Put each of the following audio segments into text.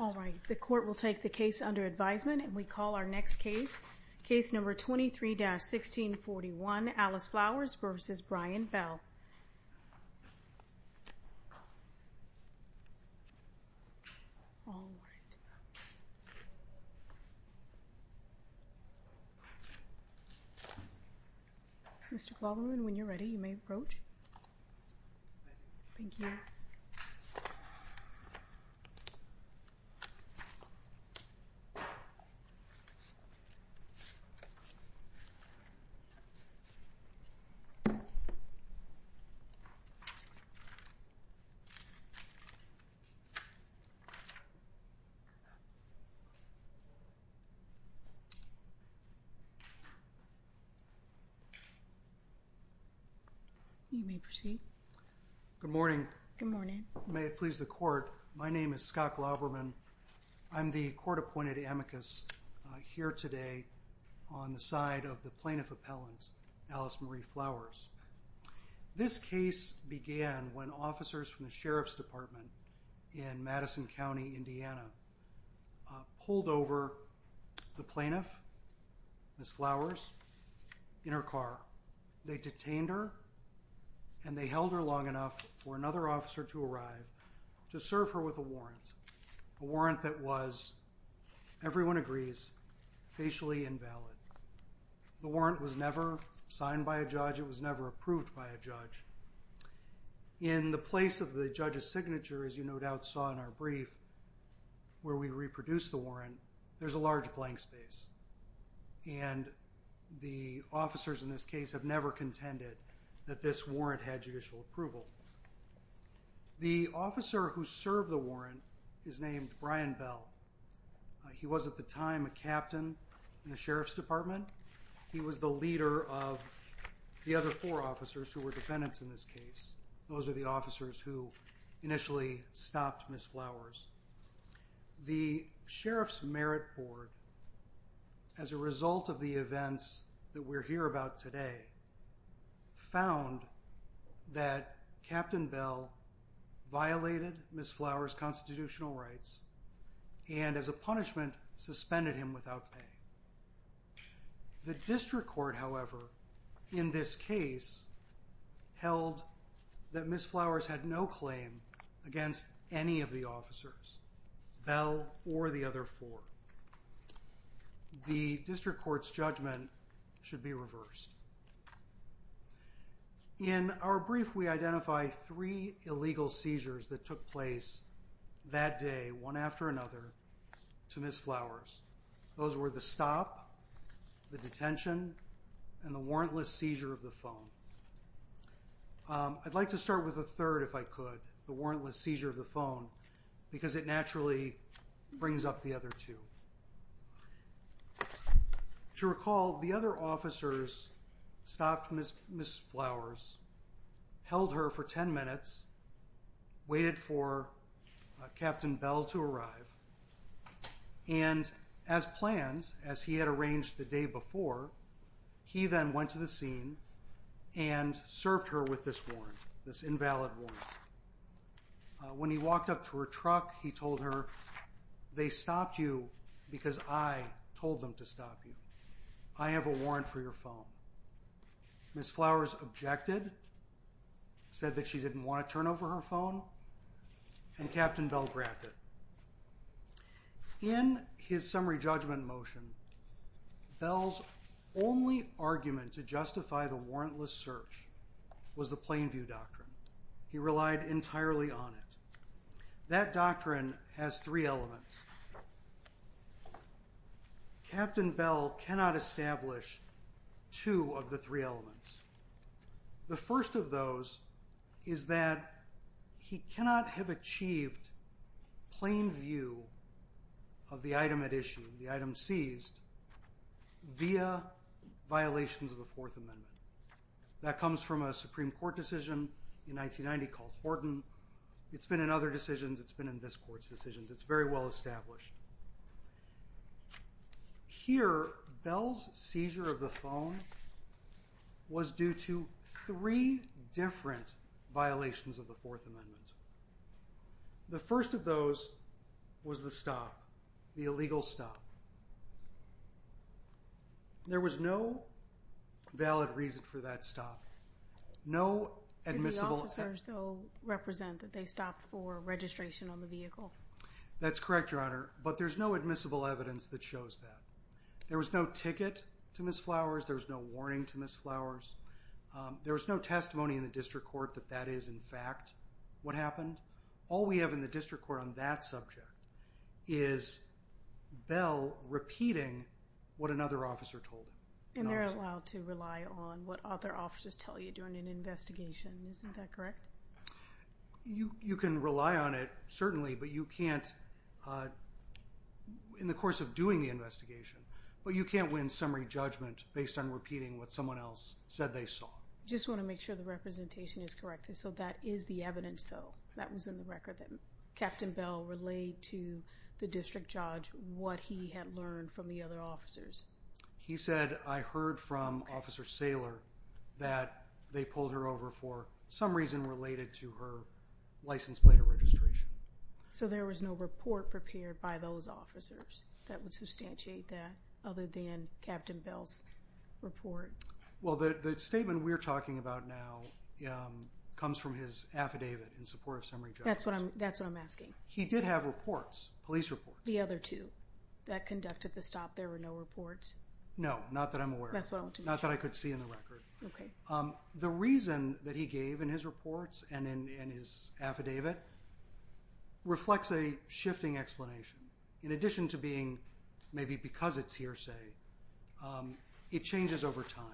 All right, the court will take the case under advisement and we call our next case, case number 23-1641, Alice Flowers v. Brian Bell. Mr. Glauberman, when you're ready you may approach. Thank you. Mr. Glauberman, you may proceed. Good morning. Good morning. May it please the court, my name is Scott Glauberman. I'm the court-appointed amicus here today on the side of the plaintiff appellant, Alice Marie Flowers. This case began when officers from the Sheriff's Department in Madison County, Indiana, pulled over the plaintiff, Ms. Flowers, in her car. They detained her and they held her long enough for another officer to arrive to serve her with a warrant. A warrant that was, everyone agrees, facially invalid. The warrant was never signed by a judge, it was never approved by a judge. In the place of the judge's signature, as you no doubt saw in our brief, where we reproduced the warrant, there's a large blank space. And the officers in this case have never contended that this warrant had judicial approval. The officer who served the warrant is named Brian Bell. He was at the time a captain in the Sheriff's Department. He was the leader of the other four officers who were defendants in this case. Those are the officers who initially stopped Ms. Flowers. The Sheriff's Merit Board, as a result of the events that we're here about today, found that Captain Bell violated Ms. Flowers' constitutional rights and, as a punishment, suspended him without pay. The District Court, however, in this case, held that Ms. Flowers had no claim against any of the officers, Bell or the other four. The District Court's judgment should be reversed. In our brief, we identify three illegal seizures that took place that day, one after another, to Ms. Flowers. Those were the stop, the detention, and the warrantless seizure of the phone. I'd like to start with the third, if I could, the warrantless seizure of the phone, because it naturally brings up the other two. To recall, the other officers stopped Ms. Flowers, held her for ten minutes, waited for Captain Bell to arrive, and, as planned, as he had arranged the day before, he then went to the scene and served her with this warrant, this invalid warrant. When he walked up to her truck, he told her, they stopped you because I told them to stop you. I have a warrant for your phone. Ms. Flowers objected, said that she didn't want to turn over her phone, and Captain Bell grabbed it. In his summary judgment motion, Bell's only argument to justify the warrantless search was the Plainview Doctrine. He relied entirely on it. That doctrine has three elements. Captain Bell cannot establish two of the three elements. The first of those is that he cannot have achieved Plainview of the item at issue, the item seized, via violations of the Fourth Amendment. That comes from a Supreme Court decision in 1990 called Horton. It's been in other decisions. It's been in this Court's decisions. It's very well established. Here, Bell's seizure of the phone was due to three different violations of the Fourth Amendment. The first of those was the stop, the illegal stop. There was no valid reason for that stop. Did the officers, though, represent that they stopped for registration on the vehicle? That's correct, Your Honor, but there's no admissible evidence that shows that. There was no ticket to Ms. Flowers. There was no warning to Ms. Flowers. There was no testimony in the District Court that that is, in fact, what happened. All we have in the District Court on that subject is Bell repeating what another officer told him. And they're allowed to rely on what other officers tell you during an investigation. Isn't that correct? You can rely on it, certainly, but you can't in the course of doing the investigation. But you can't win summary judgment based on repeating what someone else said they saw. I just want to make sure the representation is correct. So that is the evidence, though? That was in the record that Captain Bell relayed to the district judge what he had learned from the other officers? He said, I heard from Officer Saylor that they pulled her over for some reason related to her license plate of registration. So there was no report prepared by those officers that would substantiate that other than Captain Bell's report? Well, the statement we're talking about now comes from his affidavit in support of summary judgment. That's what I'm asking. He did have reports, police reports. The other two that conducted the stop, there were no reports? No, not that I'm aware of. That's what I want to make sure. Not that I could see in the record. Okay. The reason that he gave in his reports and in his affidavit reflects a shifting explanation. In addition to being maybe because it's hearsay, it changes over time.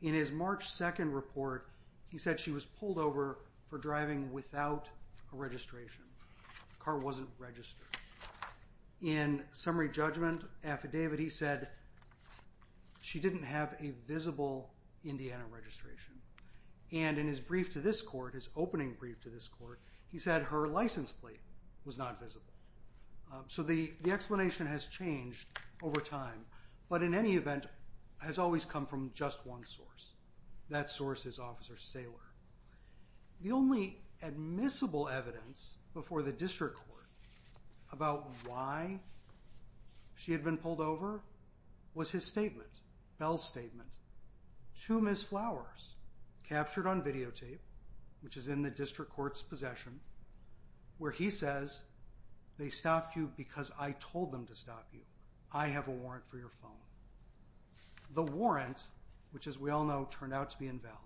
In his March 2 report, he said she was pulled over for driving without a registration. The car wasn't registered. In summary judgment affidavit, he said she didn't have a visible Indiana registration. And in his brief to this court, his opening brief to this court, he said her license plate was not visible. So the explanation has changed over time. But in any event, has always come from just one source. That source is Officer Saylor. The only admissible evidence before the district court about why she had been pulled over was his statement, Bell's statement. Two missed flowers captured on videotape, which is in the district court's possession, where he says, they stopped you because I told them to stop you. I have a warrant for your phone. The warrant, which as we all know turned out to be invalid,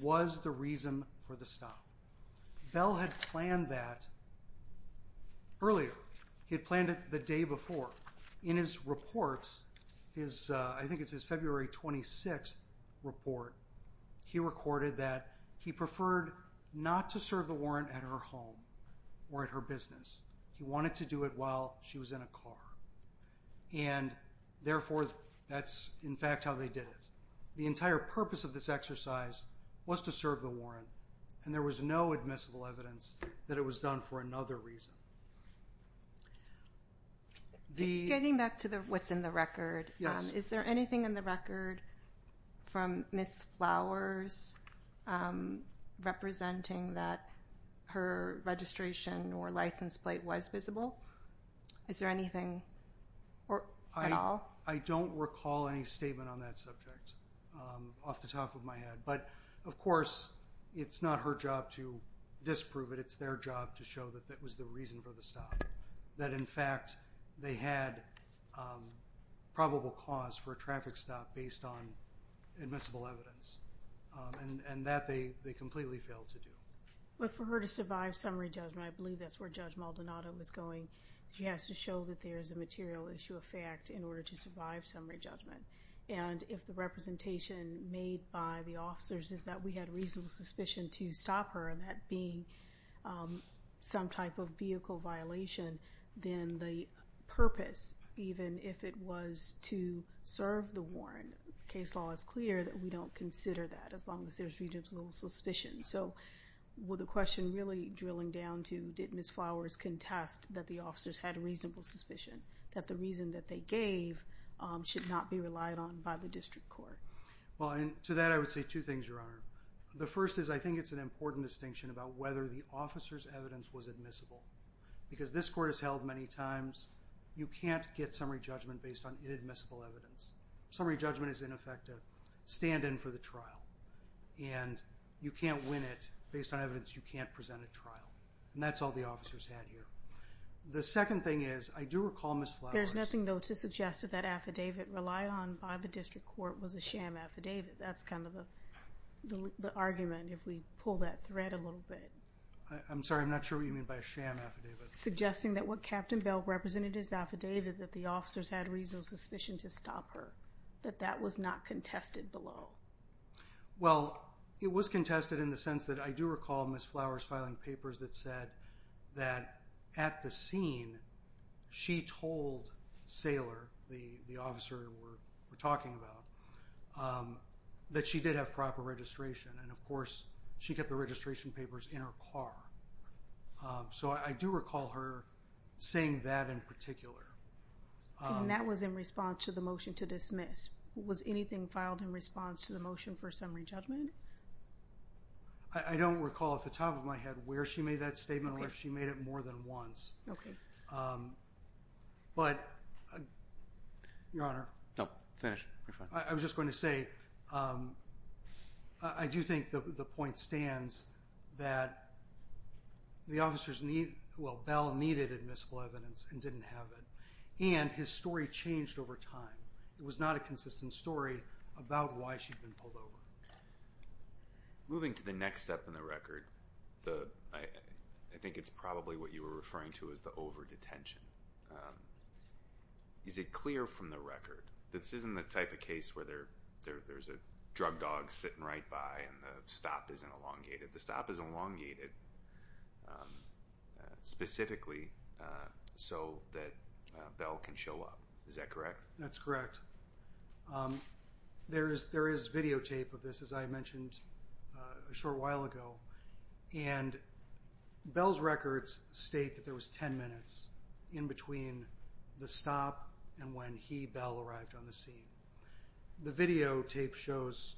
was the reason for the stop. Bell had planned that earlier. He had planned it the day before. In his report, I think it's his February 26 report, he recorded that he preferred not to serve the warrant at her home or at her business. He wanted to do it while she was in a car. And therefore, that's in fact how they did it. The entire purpose of this exercise was to serve the warrant. And there was no admissible evidence that it was done for another reason. Getting back to what's in the record, is there anything in the record from Miss Flowers representing that her registration or license plate was visible? Is there anything at all? I don't recall any statement on that subject off the top of my head. But of course, it's not her job to disprove it. It's their job to show that that was the reason for the stop. That in fact, they had probable cause for a traffic stop based on admissible evidence. And that they completely failed to do. But for her to survive summary judgment, I believe that's where Judge Maldonado was going. She has to show that there is a material issue of fact in order to survive summary judgment. And if the representation made by the officers is that we had reasonable suspicion to stop her and that being some type of vehicle violation, then the purpose, even if it was to serve the warrant, case law is clear that we don't consider that as long as there's reasonable suspicion. So, with the question really drilling down to did Miss Flowers contest that the officers had reasonable suspicion? That the reason that they gave should not be relied on by the district court? Well, to that I would say two things, Your Honor. The first is I think it's an important distinction about whether the officer's evidence was admissible. Because this court has held many times you can't get summary judgment based on inadmissible evidence. Summary judgment is, in effect, a stand-in for the trial. And you can't win it based on evidence you can't present at trial. And that's all the officers had here. The second thing is, I do recall Miss Flowers... There's nothing, though, to suggest that that affidavit relied on by the district court was a sham affidavit. That's kind of the argument, if we pull that thread a little bit. I'm sorry, I'm not sure what you mean by a sham affidavit. Suggesting that what Captain Bell represented in his affidavit, that the officers had reasonable suspicion to stop her. That that was not contested below. Well, it was contested in the sense that I do recall Miss Flowers filing papers that said that at the scene she told Saylor, the officer we're talking about, that she did have proper registration. And, of course, she kept the registration papers in her car. So I do recall her saying that in particular. And that was in response to the motion to dismiss. Was anything filed in response to the motion for summary judgment? I don't recall off the top of my head where she made that statement or if she made it more than once. But, Your Honor... No, finish. I was just going to say, I do think the point stands that the officers need... Well, Bell needed admissible evidence and didn't have it. And his story changed over time. It was not a consistent story about why she'd been pulled over. Moving to the next step in the record, I think it's probably what you were referring to as the over-detention. Is it clear from the record that this isn't the type of case where there's a drug dog sitting right by and the stop isn't elongated? The stop is elongated specifically so that Bell can show up. Is that correct? That's correct. There is videotape of this, as I mentioned a short while ago. And Bell's records state that there was 10 minutes in between the stop and when he, Bell, arrived on the scene. The videotape shows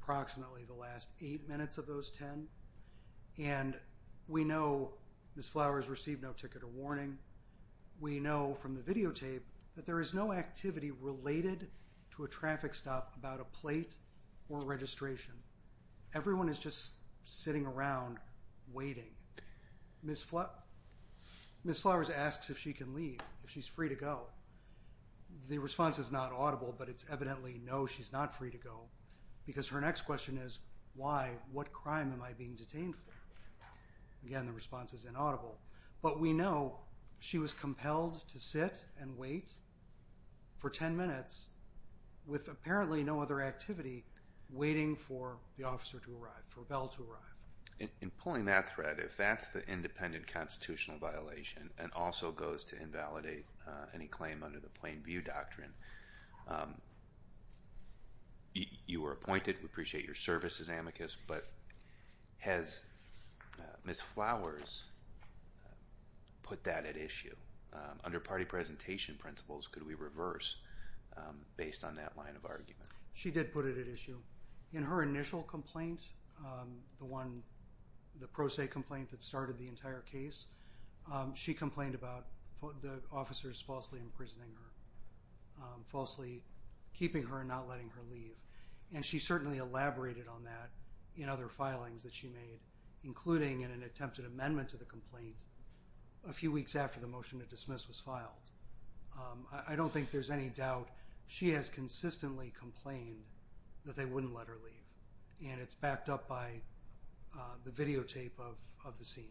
approximately the last 8 minutes of those 10. And we know Ms. Flowers received no ticket or warning. We know from the videotape that there is no activity related to a traffic stop about a plate or registration. Everyone is just sitting around waiting. Ms. Flowers asks if she can leave, if she's free to go. The response is not audible, but it's evidently, no, she's not free to go, because her next question is, why, what crime am I being detained for? Again, the response is inaudible. But we know she was compelled to sit and wait for 10 minutes with apparently no other activity, waiting for the officer to arrive, for Bell to arrive. In pulling that thread, if that's the independent constitutional violation and also goes to invalidate any claim under the plain view doctrine, you were appointed. We appreciate your service as amicus. But has Ms. Flowers put that at issue? Under party presentation principles, could we reverse based on that line of argument? She did put it at issue. In her initial complaint, the one, the pro se complaint that started the entire case, she complained about the officers falsely imprisoning her, falsely keeping her and not letting her leave. And she certainly elaborated on that in other filings that she made, including in an attempted amendment to the complaint a few weeks after the motion to dismiss was filed. I don't think there's any doubt she has consistently complained that they wouldn't let her leave. And it's backed up by the videotape of the scene.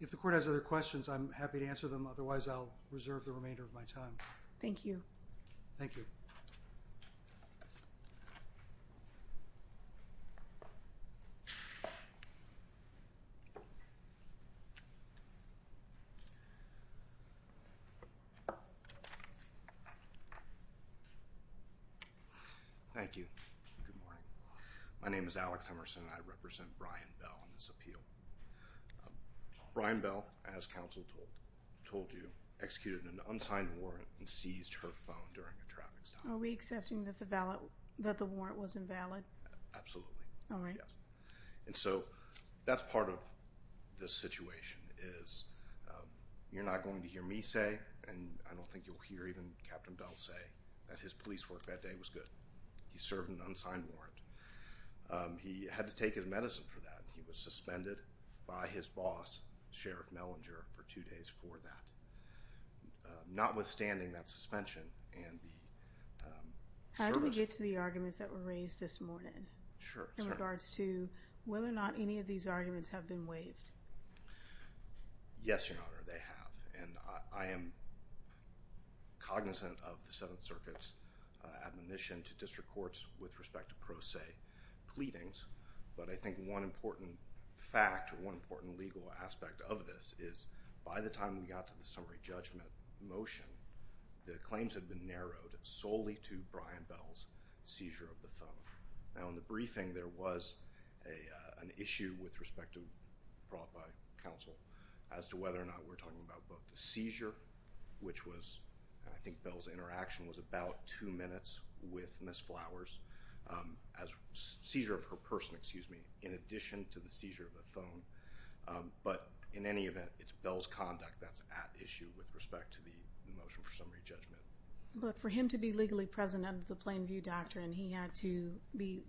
If the court has other questions, I'm happy to answer them. Otherwise, I'll reserve the remainder of my time. Thank you. Thank you. Thank you. Good morning. My name is Alex Emerson. I represent Brian Bell on this appeal. Brian Bell, as counsel told you, executed an unsigned warrant and seized her phone during a traffic stop. Are we accepting that the warrant was invalid? Absolutely. All right. And so that's part of the situation is you're not going to hear me say, and I don't think you'll hear even Captain Bell say, that his police work that day was good. He served an unsigned warrant. He had to take his medicine for that. And he was suspended by his boss, Sheriff Mellinger, for two days for that. Notwithstanding that suspension and the service. How do we get to the arguments that were raised this morning? Sure. In regards to whether or not any of these arguments have been waived. Yes, Your Honor, they have. And I am cognizant of the Seventh Circuit's admonition to district courts with respect to pro se pleadings. But I think one important fact, one important legal aspect of this, is by the time we got to the summary judgment motion, the claims had been narrowed solely to Brian Bell's seizure of the phone. Now, in the briefing, there was an issue with respect to, brought by counsel, as to whether or not we're talking about both the seizure, which was, and I think Bell's interaction was about two minutes with Ms. Flowers, as seizure of her person, excuse me, in addition to the seizure of the phone. But in any event, it's Bell's conduct that's at issue with respect to the motion for summary judgment. But for him to be legally present under the Plain View Doctrine, he had to be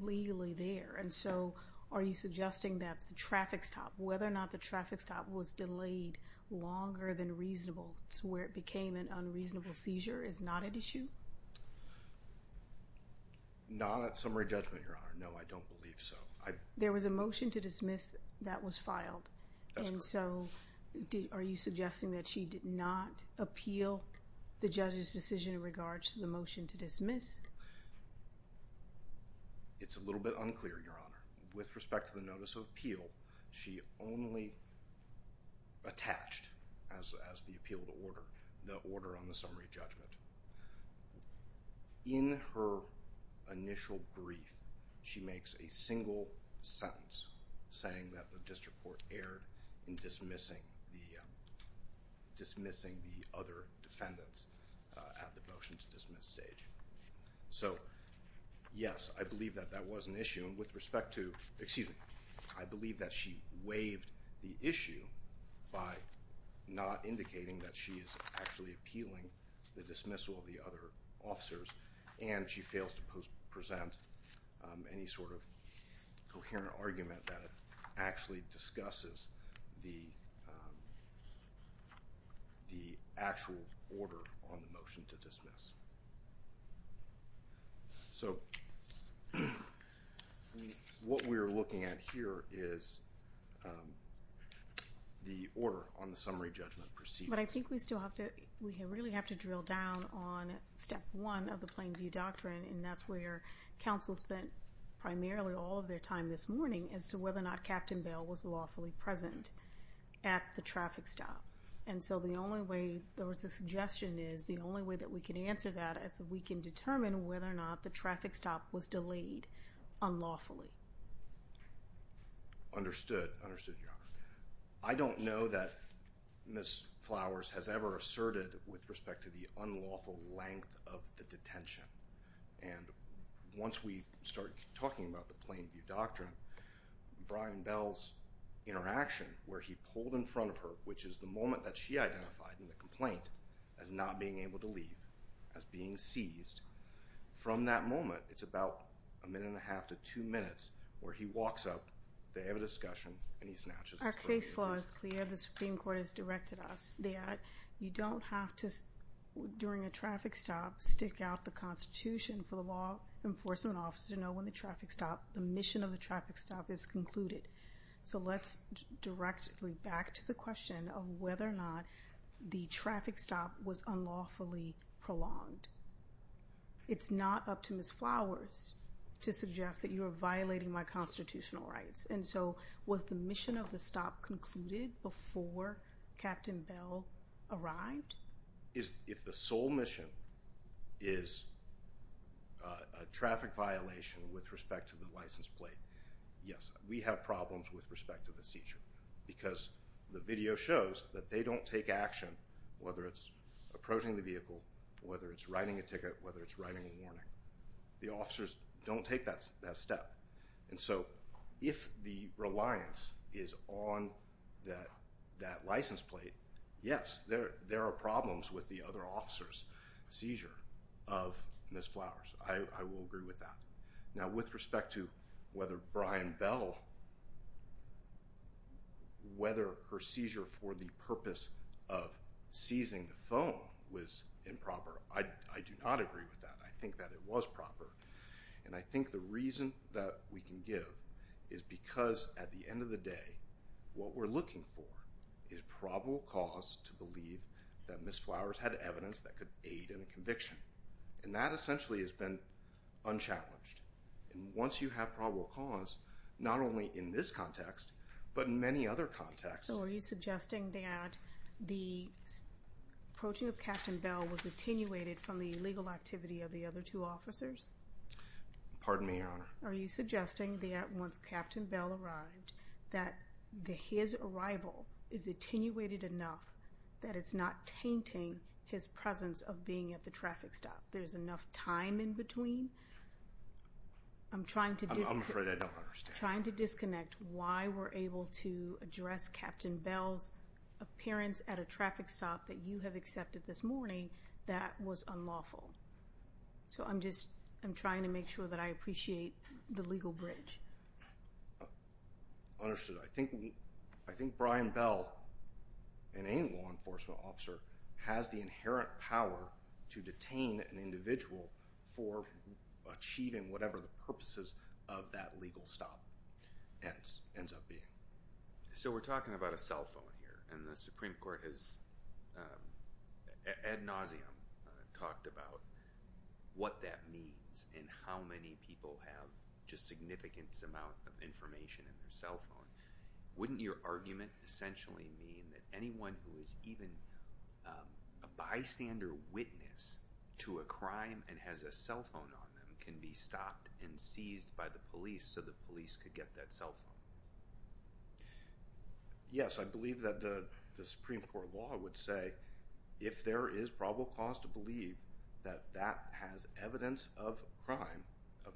legally there. And so are you suggesting that the traffic stop, whether or not the traffic stop was delayed longer than reasonable to where it became an unreasonable seizure, is not at issue? Not at summary judgment, Your Honor. No, I don't believe so. There was a motion to dismiss that was filed. And so are you suggesting that she did not appeal the judge's decision in regards to the motion to dismiss? It's a little bit unclear, Your Honor. With respect to the notice of appeal, she only attached, as the appeal to order, the order on the summary judgment. In her initial brief, she makes a single sentence, saying that the district court erred in dismissing the other defendants at the motion to dismiss stage. So, yes, I believe that that was an issue. And with respect to, excuse me, I believe that she waived the issue by not indicating that she is actually appealing the dismissal of the other officers, and she fails to present any sort of coherent argument that actually discusses the actual order on the motion to dismiss. So, what we're looking at here is the order on the summary judgment proceeding. But I think we still have to, we really have to drill down on Step 1 of the Plain View Doctrine, and that's where counsel spent primarily all of their time this morning as to whether or not Captain Bell was lawfully present at the traffic stop. And so the only way, or the suggestion is the only way that we can answer that is if we can determine whether or not the traffic stop was delayed unlawfully. Understood. Understood, Your Honor. I don't know that Ms. Flowers has ever asserted with respect to the unlawful length of the detention. And once we start talking about the Plain View Doctrine, Brian Bell's interaction where he pulled in front of her, which is the moment that she identified in the complaint as not being able to leave, as being seized, from that moment, it's about a minute and a half to two minutes, where he walks up, they have a discussion, and he snatches the Plain View. Our case law is clear. The Supreme Court has directed us that you don't have to, during a traffic stop, stick out the Constitution for the law enforcement officer to know when the traffic stop, the mission of the traffic stop is concluded. So let's directly back to the question of whether or not the traffic stop was unlawfully prolonged. It's not up to Ms. Flowers to suggest that you are violating my constitutional rights. And so was the mission of the stop concluded before Captain Bell arrived? If the sole mission is a traffic violation with respect to the license plate, yes. We have problems with respect to the seizure because the video shows that they don't take action, whether it's approaching the vehicle, whether it's writing a ticket, whether it's writing a warning. The officers don't take that step. And so if the reliance is on that license plate, yes, there are problems with the other officers' seizure of Ms. Flowers. I will agree with that. Now, with respect to whether Brian Bell, whether her seizure for the purpose of seizing the phone was improper, I do not agree with that. I think that it was proper. And I think the reason that we can give is because at the end of the day, what we're looking for is probable cause to believe that Ms. Flowers had evidence that could aid in a conviction. And that essentially has been unchallenged. And once you have probable cause, not only in this context, but in many other contexts. So are you suggesting that the approaching of Captain Bell was attenuated from the illegal activity of the other two officers? Pardon me, Your Honor. Are you suggesting that once Captain Bell arrived, that his arrival is attenuated enough that it's not tainting his presence of being at the traffic stop? There's enough time in between? I'm afraid I don't understand. I'm trying to disconnect why we're able to address Captain Bell's appearance at a traffic stop that you have accepted this morning that was unlawful. So I'm just trying to make sure that I appreciate the legal bridge. Understood. I think Brian Bell and any law enforcement officer has the inherent power to detain an individual for achieving whatever the purposes of that legal stop ends up being. So we're talking about a cell phone here. And the Supreme Court has ad nauseum talked about what that means and how many people have just a significant amount of information in their cell phone. Wouldn't your argument essentially mean that anyone who is even a bystander witness to a crime and has a cell phone on them can be stopped and seized by the police so the police could get that cell phone? Yes, I believe that the Supreme Court law would say if there is probable cause to believe that that has evidence of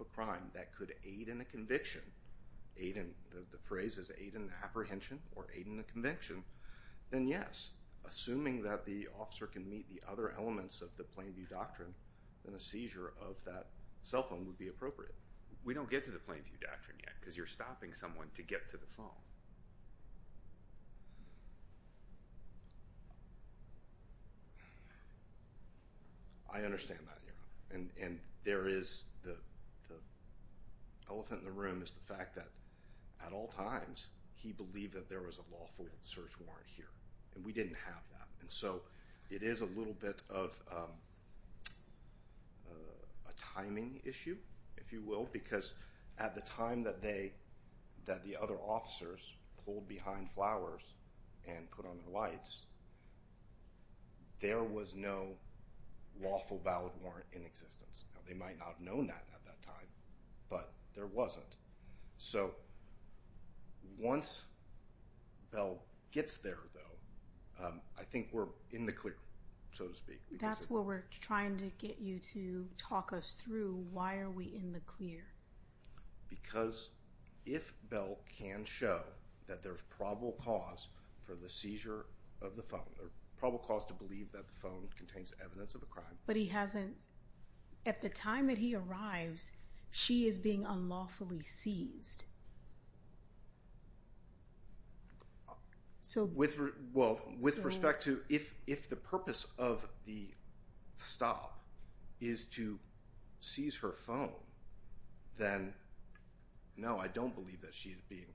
a crime that could aid in a conviction, the phrase is aid in apprehension or aid in a conviction, then yes. Assuming that the officer can meet the other elements of the plain view doctrine, then a seizure of that cell phone would be appropriate. We don't get to the plain view doctrine yet because you're stopping someone to get to the phone. I understand that, Your Honor. And there is the elephant in the room is the fact that at all times he believed that there was a lawful search warrant here, and we didn't have that. And so it is a little bit of a timing issue, if you will, because at the time that the other officers pulled behind flowers and put on the lights, there was no lawful valid warrant in existence. Now, they might not have known that at that time, but there wasn't. So once Bell gets there, though, I think we're in the clear, so to speak. That's what we're trying to get you to talk us through. Why are we in the clear? Because if Bell can show that there's probable cause for the seizure of the phone, probable cause to believe that the phone contains evidence of a crime. But he hasn't – at the time that he arrives, she is being unlawfully seized. Well, with respect to if the purpose of the stop is to seize her phone, then no, I don't believe that she is being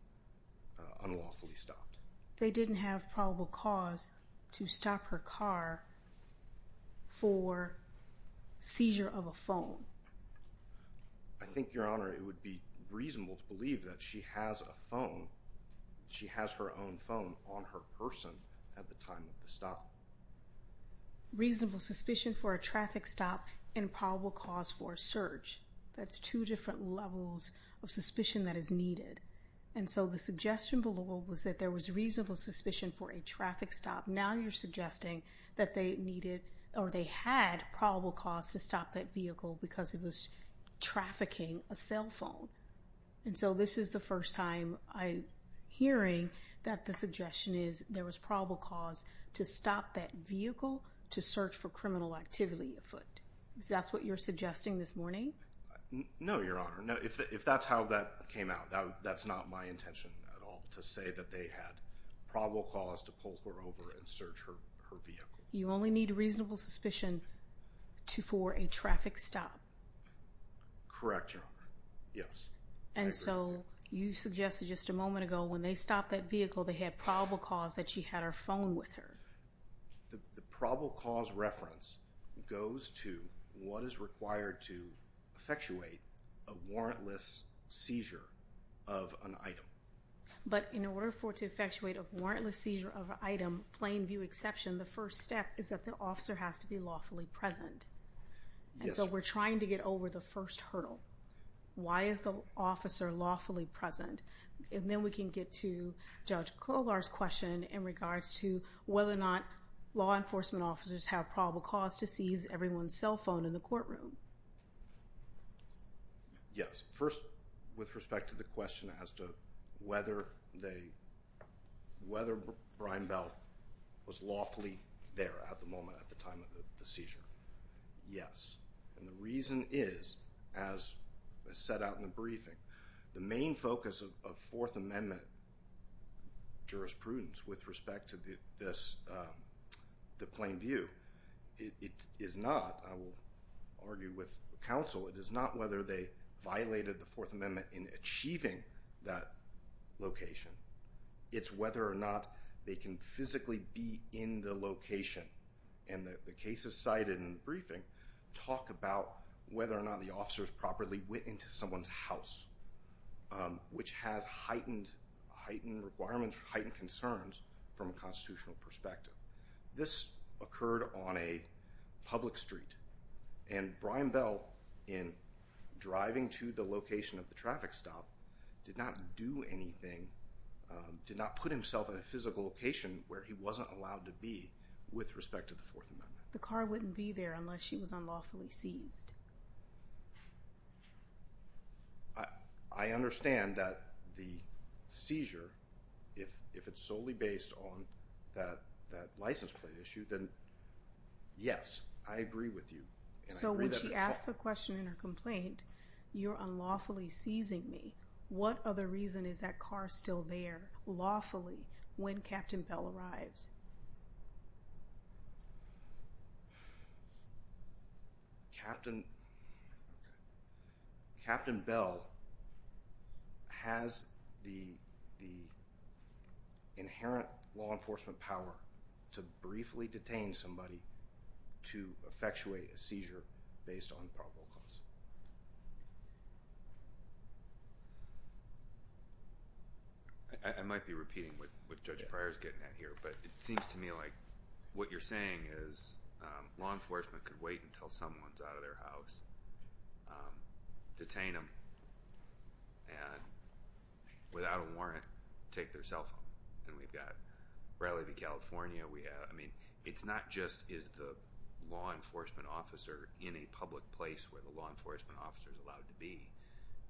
unlawfully stopped. They didn't have probable cause to stop her car for seizure of a phone. I think, Your Honor, it would be reasonable to believe that she has a phone. She has her own phone on her person at the time of the stop. Reasonable suspicion for a traffic stop and probable cause for a search. That's two different levels of suspicion that is needed. And so the suggestion below was that there was reasonable suspicion for a traffic stop. Now you're suggesting that they needed or they had probable cause to stop that vehicle because it was trafficking a cell phone. And so this is the first time I'm hearing that the suggestion is there was probable cause to stop that vehicle to search for criminal activity afoot. Is that what you're suggesting this morning? No, Your Honor. No, if that's how that came out, that's not my intention at all to say that they had probable cause to pull her over and search her vehicle. You only need reasonable suspicion for a traffic stop. Correct, Your Honor. Yes. I agree. And so you suggested just a moment ago when they stopped that vehicle they had probable cause that she had her phone with her. The probable cause reference goes to what is required to effectuate a warrantless seizure of an item. But in order for it to effectuate a warrantless seizure of an item, plain view exception, the first step is that the officer has to be lawfully present. And so we're trying to get over the first hurdle. Why is the officer lawfully present? And then we can get to Judge Kolar's question in regards to whether or not law enforcement officers have probable cause to seize everyone's cell phone in the courtroom. Yes. First, with respect to the question as to whether they whether Brian Bell was lawfully there at the moment at the time of the seizure. Yes. And the reason is, as set out in the briefing, the main focus of Fourth Amendment jurisprudence with respect to this, the plain view, it is not, I will argue with counsel, it is not whether they violated the Fourth Amendment in achieving that location. It's whether or not they can physically be in the location. And the cases cited in the briefing talk about whether or not the officers properly went into someone's house, which has heightened requirements, heightened concerns from a constitutional perspective. This occurred on a public street. And Brian Bell, in driving to the location of the traffic stop, did not do anything, did not put himself in a physical location where he wasn't allowed to be with respect to the Fourth Amendment. The car wouldn't be there unless she was unlawfully seized. I understand that the seizure, if it's solely based on that license plate issue, then yes, I agree with you. So when she asked the question in her complaint, you're unlawfully seizing me. What other reason is that car still there lawfully when Captain Bell arrives? Captain Bell has the inherent law enforcement power to briefly detain somebody to effectuate a seizure based on probable cause. I might be repeating what Judge Pryor is getting at here, but it seems to me like what you're saying is law enforcement could wait until someone is out of their house, detain them, and without a warrant, take their cell phone. And we've got Bradley v. California. I mean, it's not just is the law enforcement officer in a public place where the law enforcement officer is allowed to be.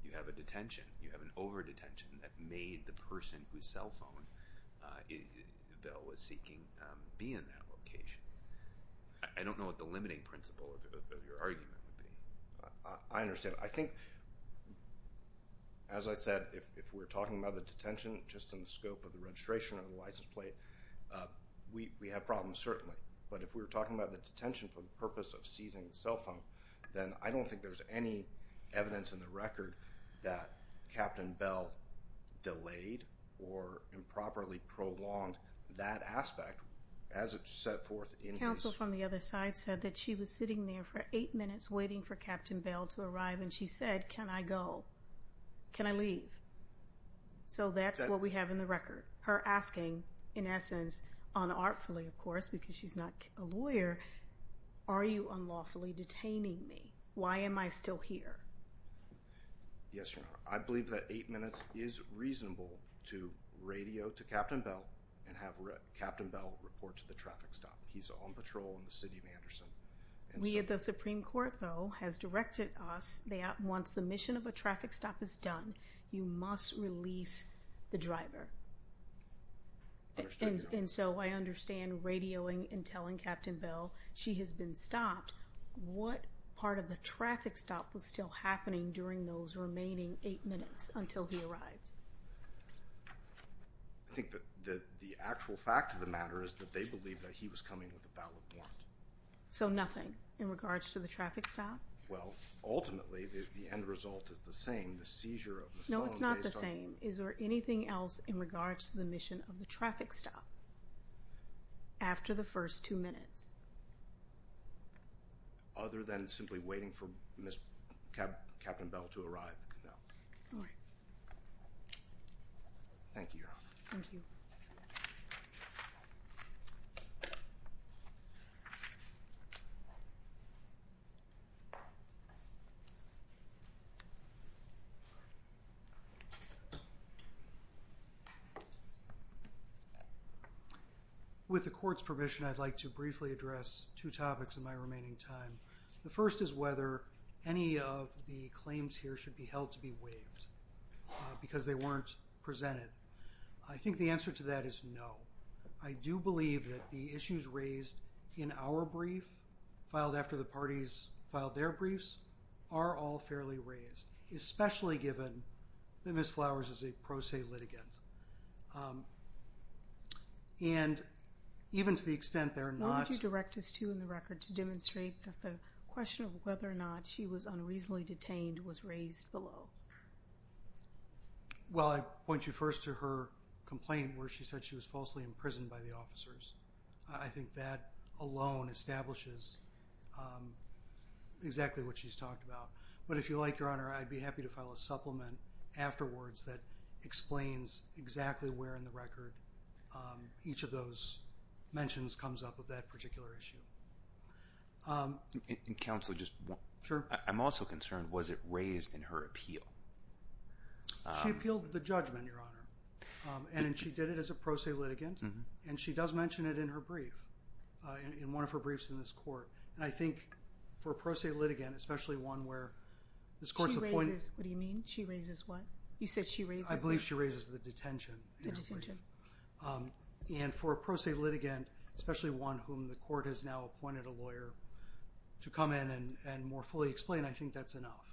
You have a detention. You have an over-detention that made the person whose cell phone Bell was seeking be in that location. I don't know what the limiting principle of your argument would be. I understand. I think, as I said, if we're talking about the detention, just in the scope of the registration of the license plate, we have problems, certainly. But if we're talking about the detention for the purpose of seizing the cell phone, then I don't think there's any evidence in the record that Captain Bell delayed or improperly prolonged that aspect as it's set forth in this. Counsel from the other side said that she was sitting there for eight minutes waiting for Captain Bell to arrive, and she said, Can I go? Can I leave? So that's what we have in the record. Her asking, in essence, unartfully, of course, because she's not a lawyer, Are you unlawfully detaining me? Why am I still here? Yes, Your Honor. I believe that eight minutes is reasonable to radio to Captain Bell and have Captain Bell report to the traffic stop. He's on patrol in the city of Anderson. We at the Supreme Court, though, has directed us that once the mission of a traffic stop is done, you must release the driver. I understand, Your Honor. And so I understand radioing and telling Captain Bell she has been stopped. What part of the traffic stop was still happening during those remaining eight minutes until he arrived? I think that the actual fact of the matter is that they believe that he was coming with a ballot warrant. So nothing in regards to the traffic stop? Well, ultimately, the end result is the same. The seizure of the cell phone based on the— No, it's not the same. Is there anything else in regards to the mission of the traffic stop after the first two minutes? Other than simply waiting for Captain Bell to arrive, no. Thank you, Your Honor. Thank you. With the Court's permission, I'd like to briefly address two topics in my remaining time. The first is whether any of the claims here should be held to be waived because they weren't presented. I think the answer to that is no. I do believe that the issues raised in our brief, filed after the parties filed their briefs, are all fairly raised, especially given that Ms. Flowers is a pro se litigant. And even to the extent there are not— What would you direct us to in the record to demonstrate that the question of whether or not she was unreasonably detained was raised below? Well, I'd point you first to her complaint where she said she was falsely imprisoned by the officers. I think that alone establishes exactly what she's talked about. But if you like, Your Honor, I'd be happy to file a supplement afterwards that explains exactly where in the record each of those mentions comes up with that particular issue. Counsel, I'm also concerned, was it raised in her appeal? She appealed the judgment, Your Honor. And she did it as a pro se litigant. And she does mention it in her brief, in one of her briefs in this court. And I think for a pro se litigant, especially one where this court's appointed— She raises—what do you mean? She raises what? You said she raises— I believe she raises the detention. The detention. And for a pro se litigant, especially one whom the court has now appointed a lawyer to come in and more fully explain, I think that's enough.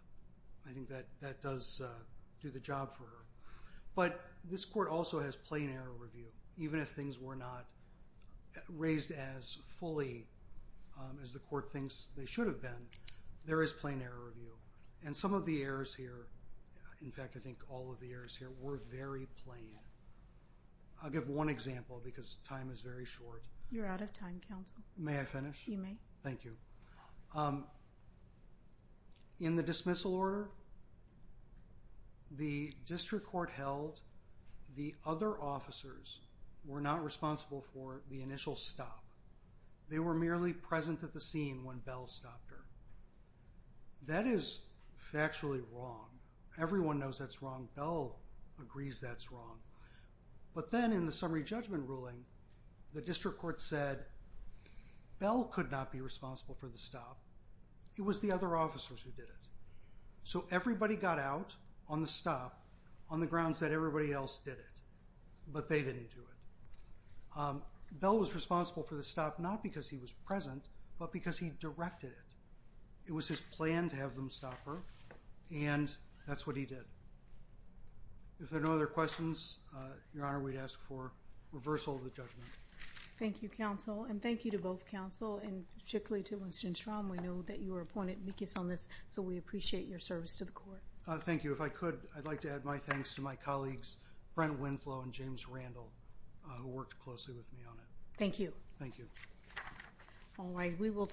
I think that does do the job for her. But this court also has plain error review. Even if things were not raised as fully as the court thinks they should have been, there is plain error review. And some of the errors here—in fact, I think all of the errors here were very plain. I'll give one example because time is very short. You're out of time, counsel. May I finish? You may. Thank you. In the dismissal order, the district court held the other officers were not responsible for the initial stop. They were merely present at the scene when Bell stopped her. That is factually wrong. Everyone knows that's wrong. Bell agrees that's wrong. But then in the summary judgment ruling, the district court said Bell could not be responsible for the stop. It was the other officers who did it. So everybody got out on the stop on the grounds that everybody else did it, but they didn't do it. Bell was responsible for the stop not because he was present, but because he directed it. It was his plan to have them stop her, and that's what he did. If there are no other questions, Your Honor, we'd ask for reversal of the judgment. Thank you, counsel. And thank you to both counsel, and particularly to Winston Strom. We know that you were appointed because on this, so we appreciate your service to the court. Thank you. If I could, I'd like to add my thanks to my colleagues, Brent Winflow and James Randall, who worked closely with me on it. Thank you. Thank you. All right. We will take questions.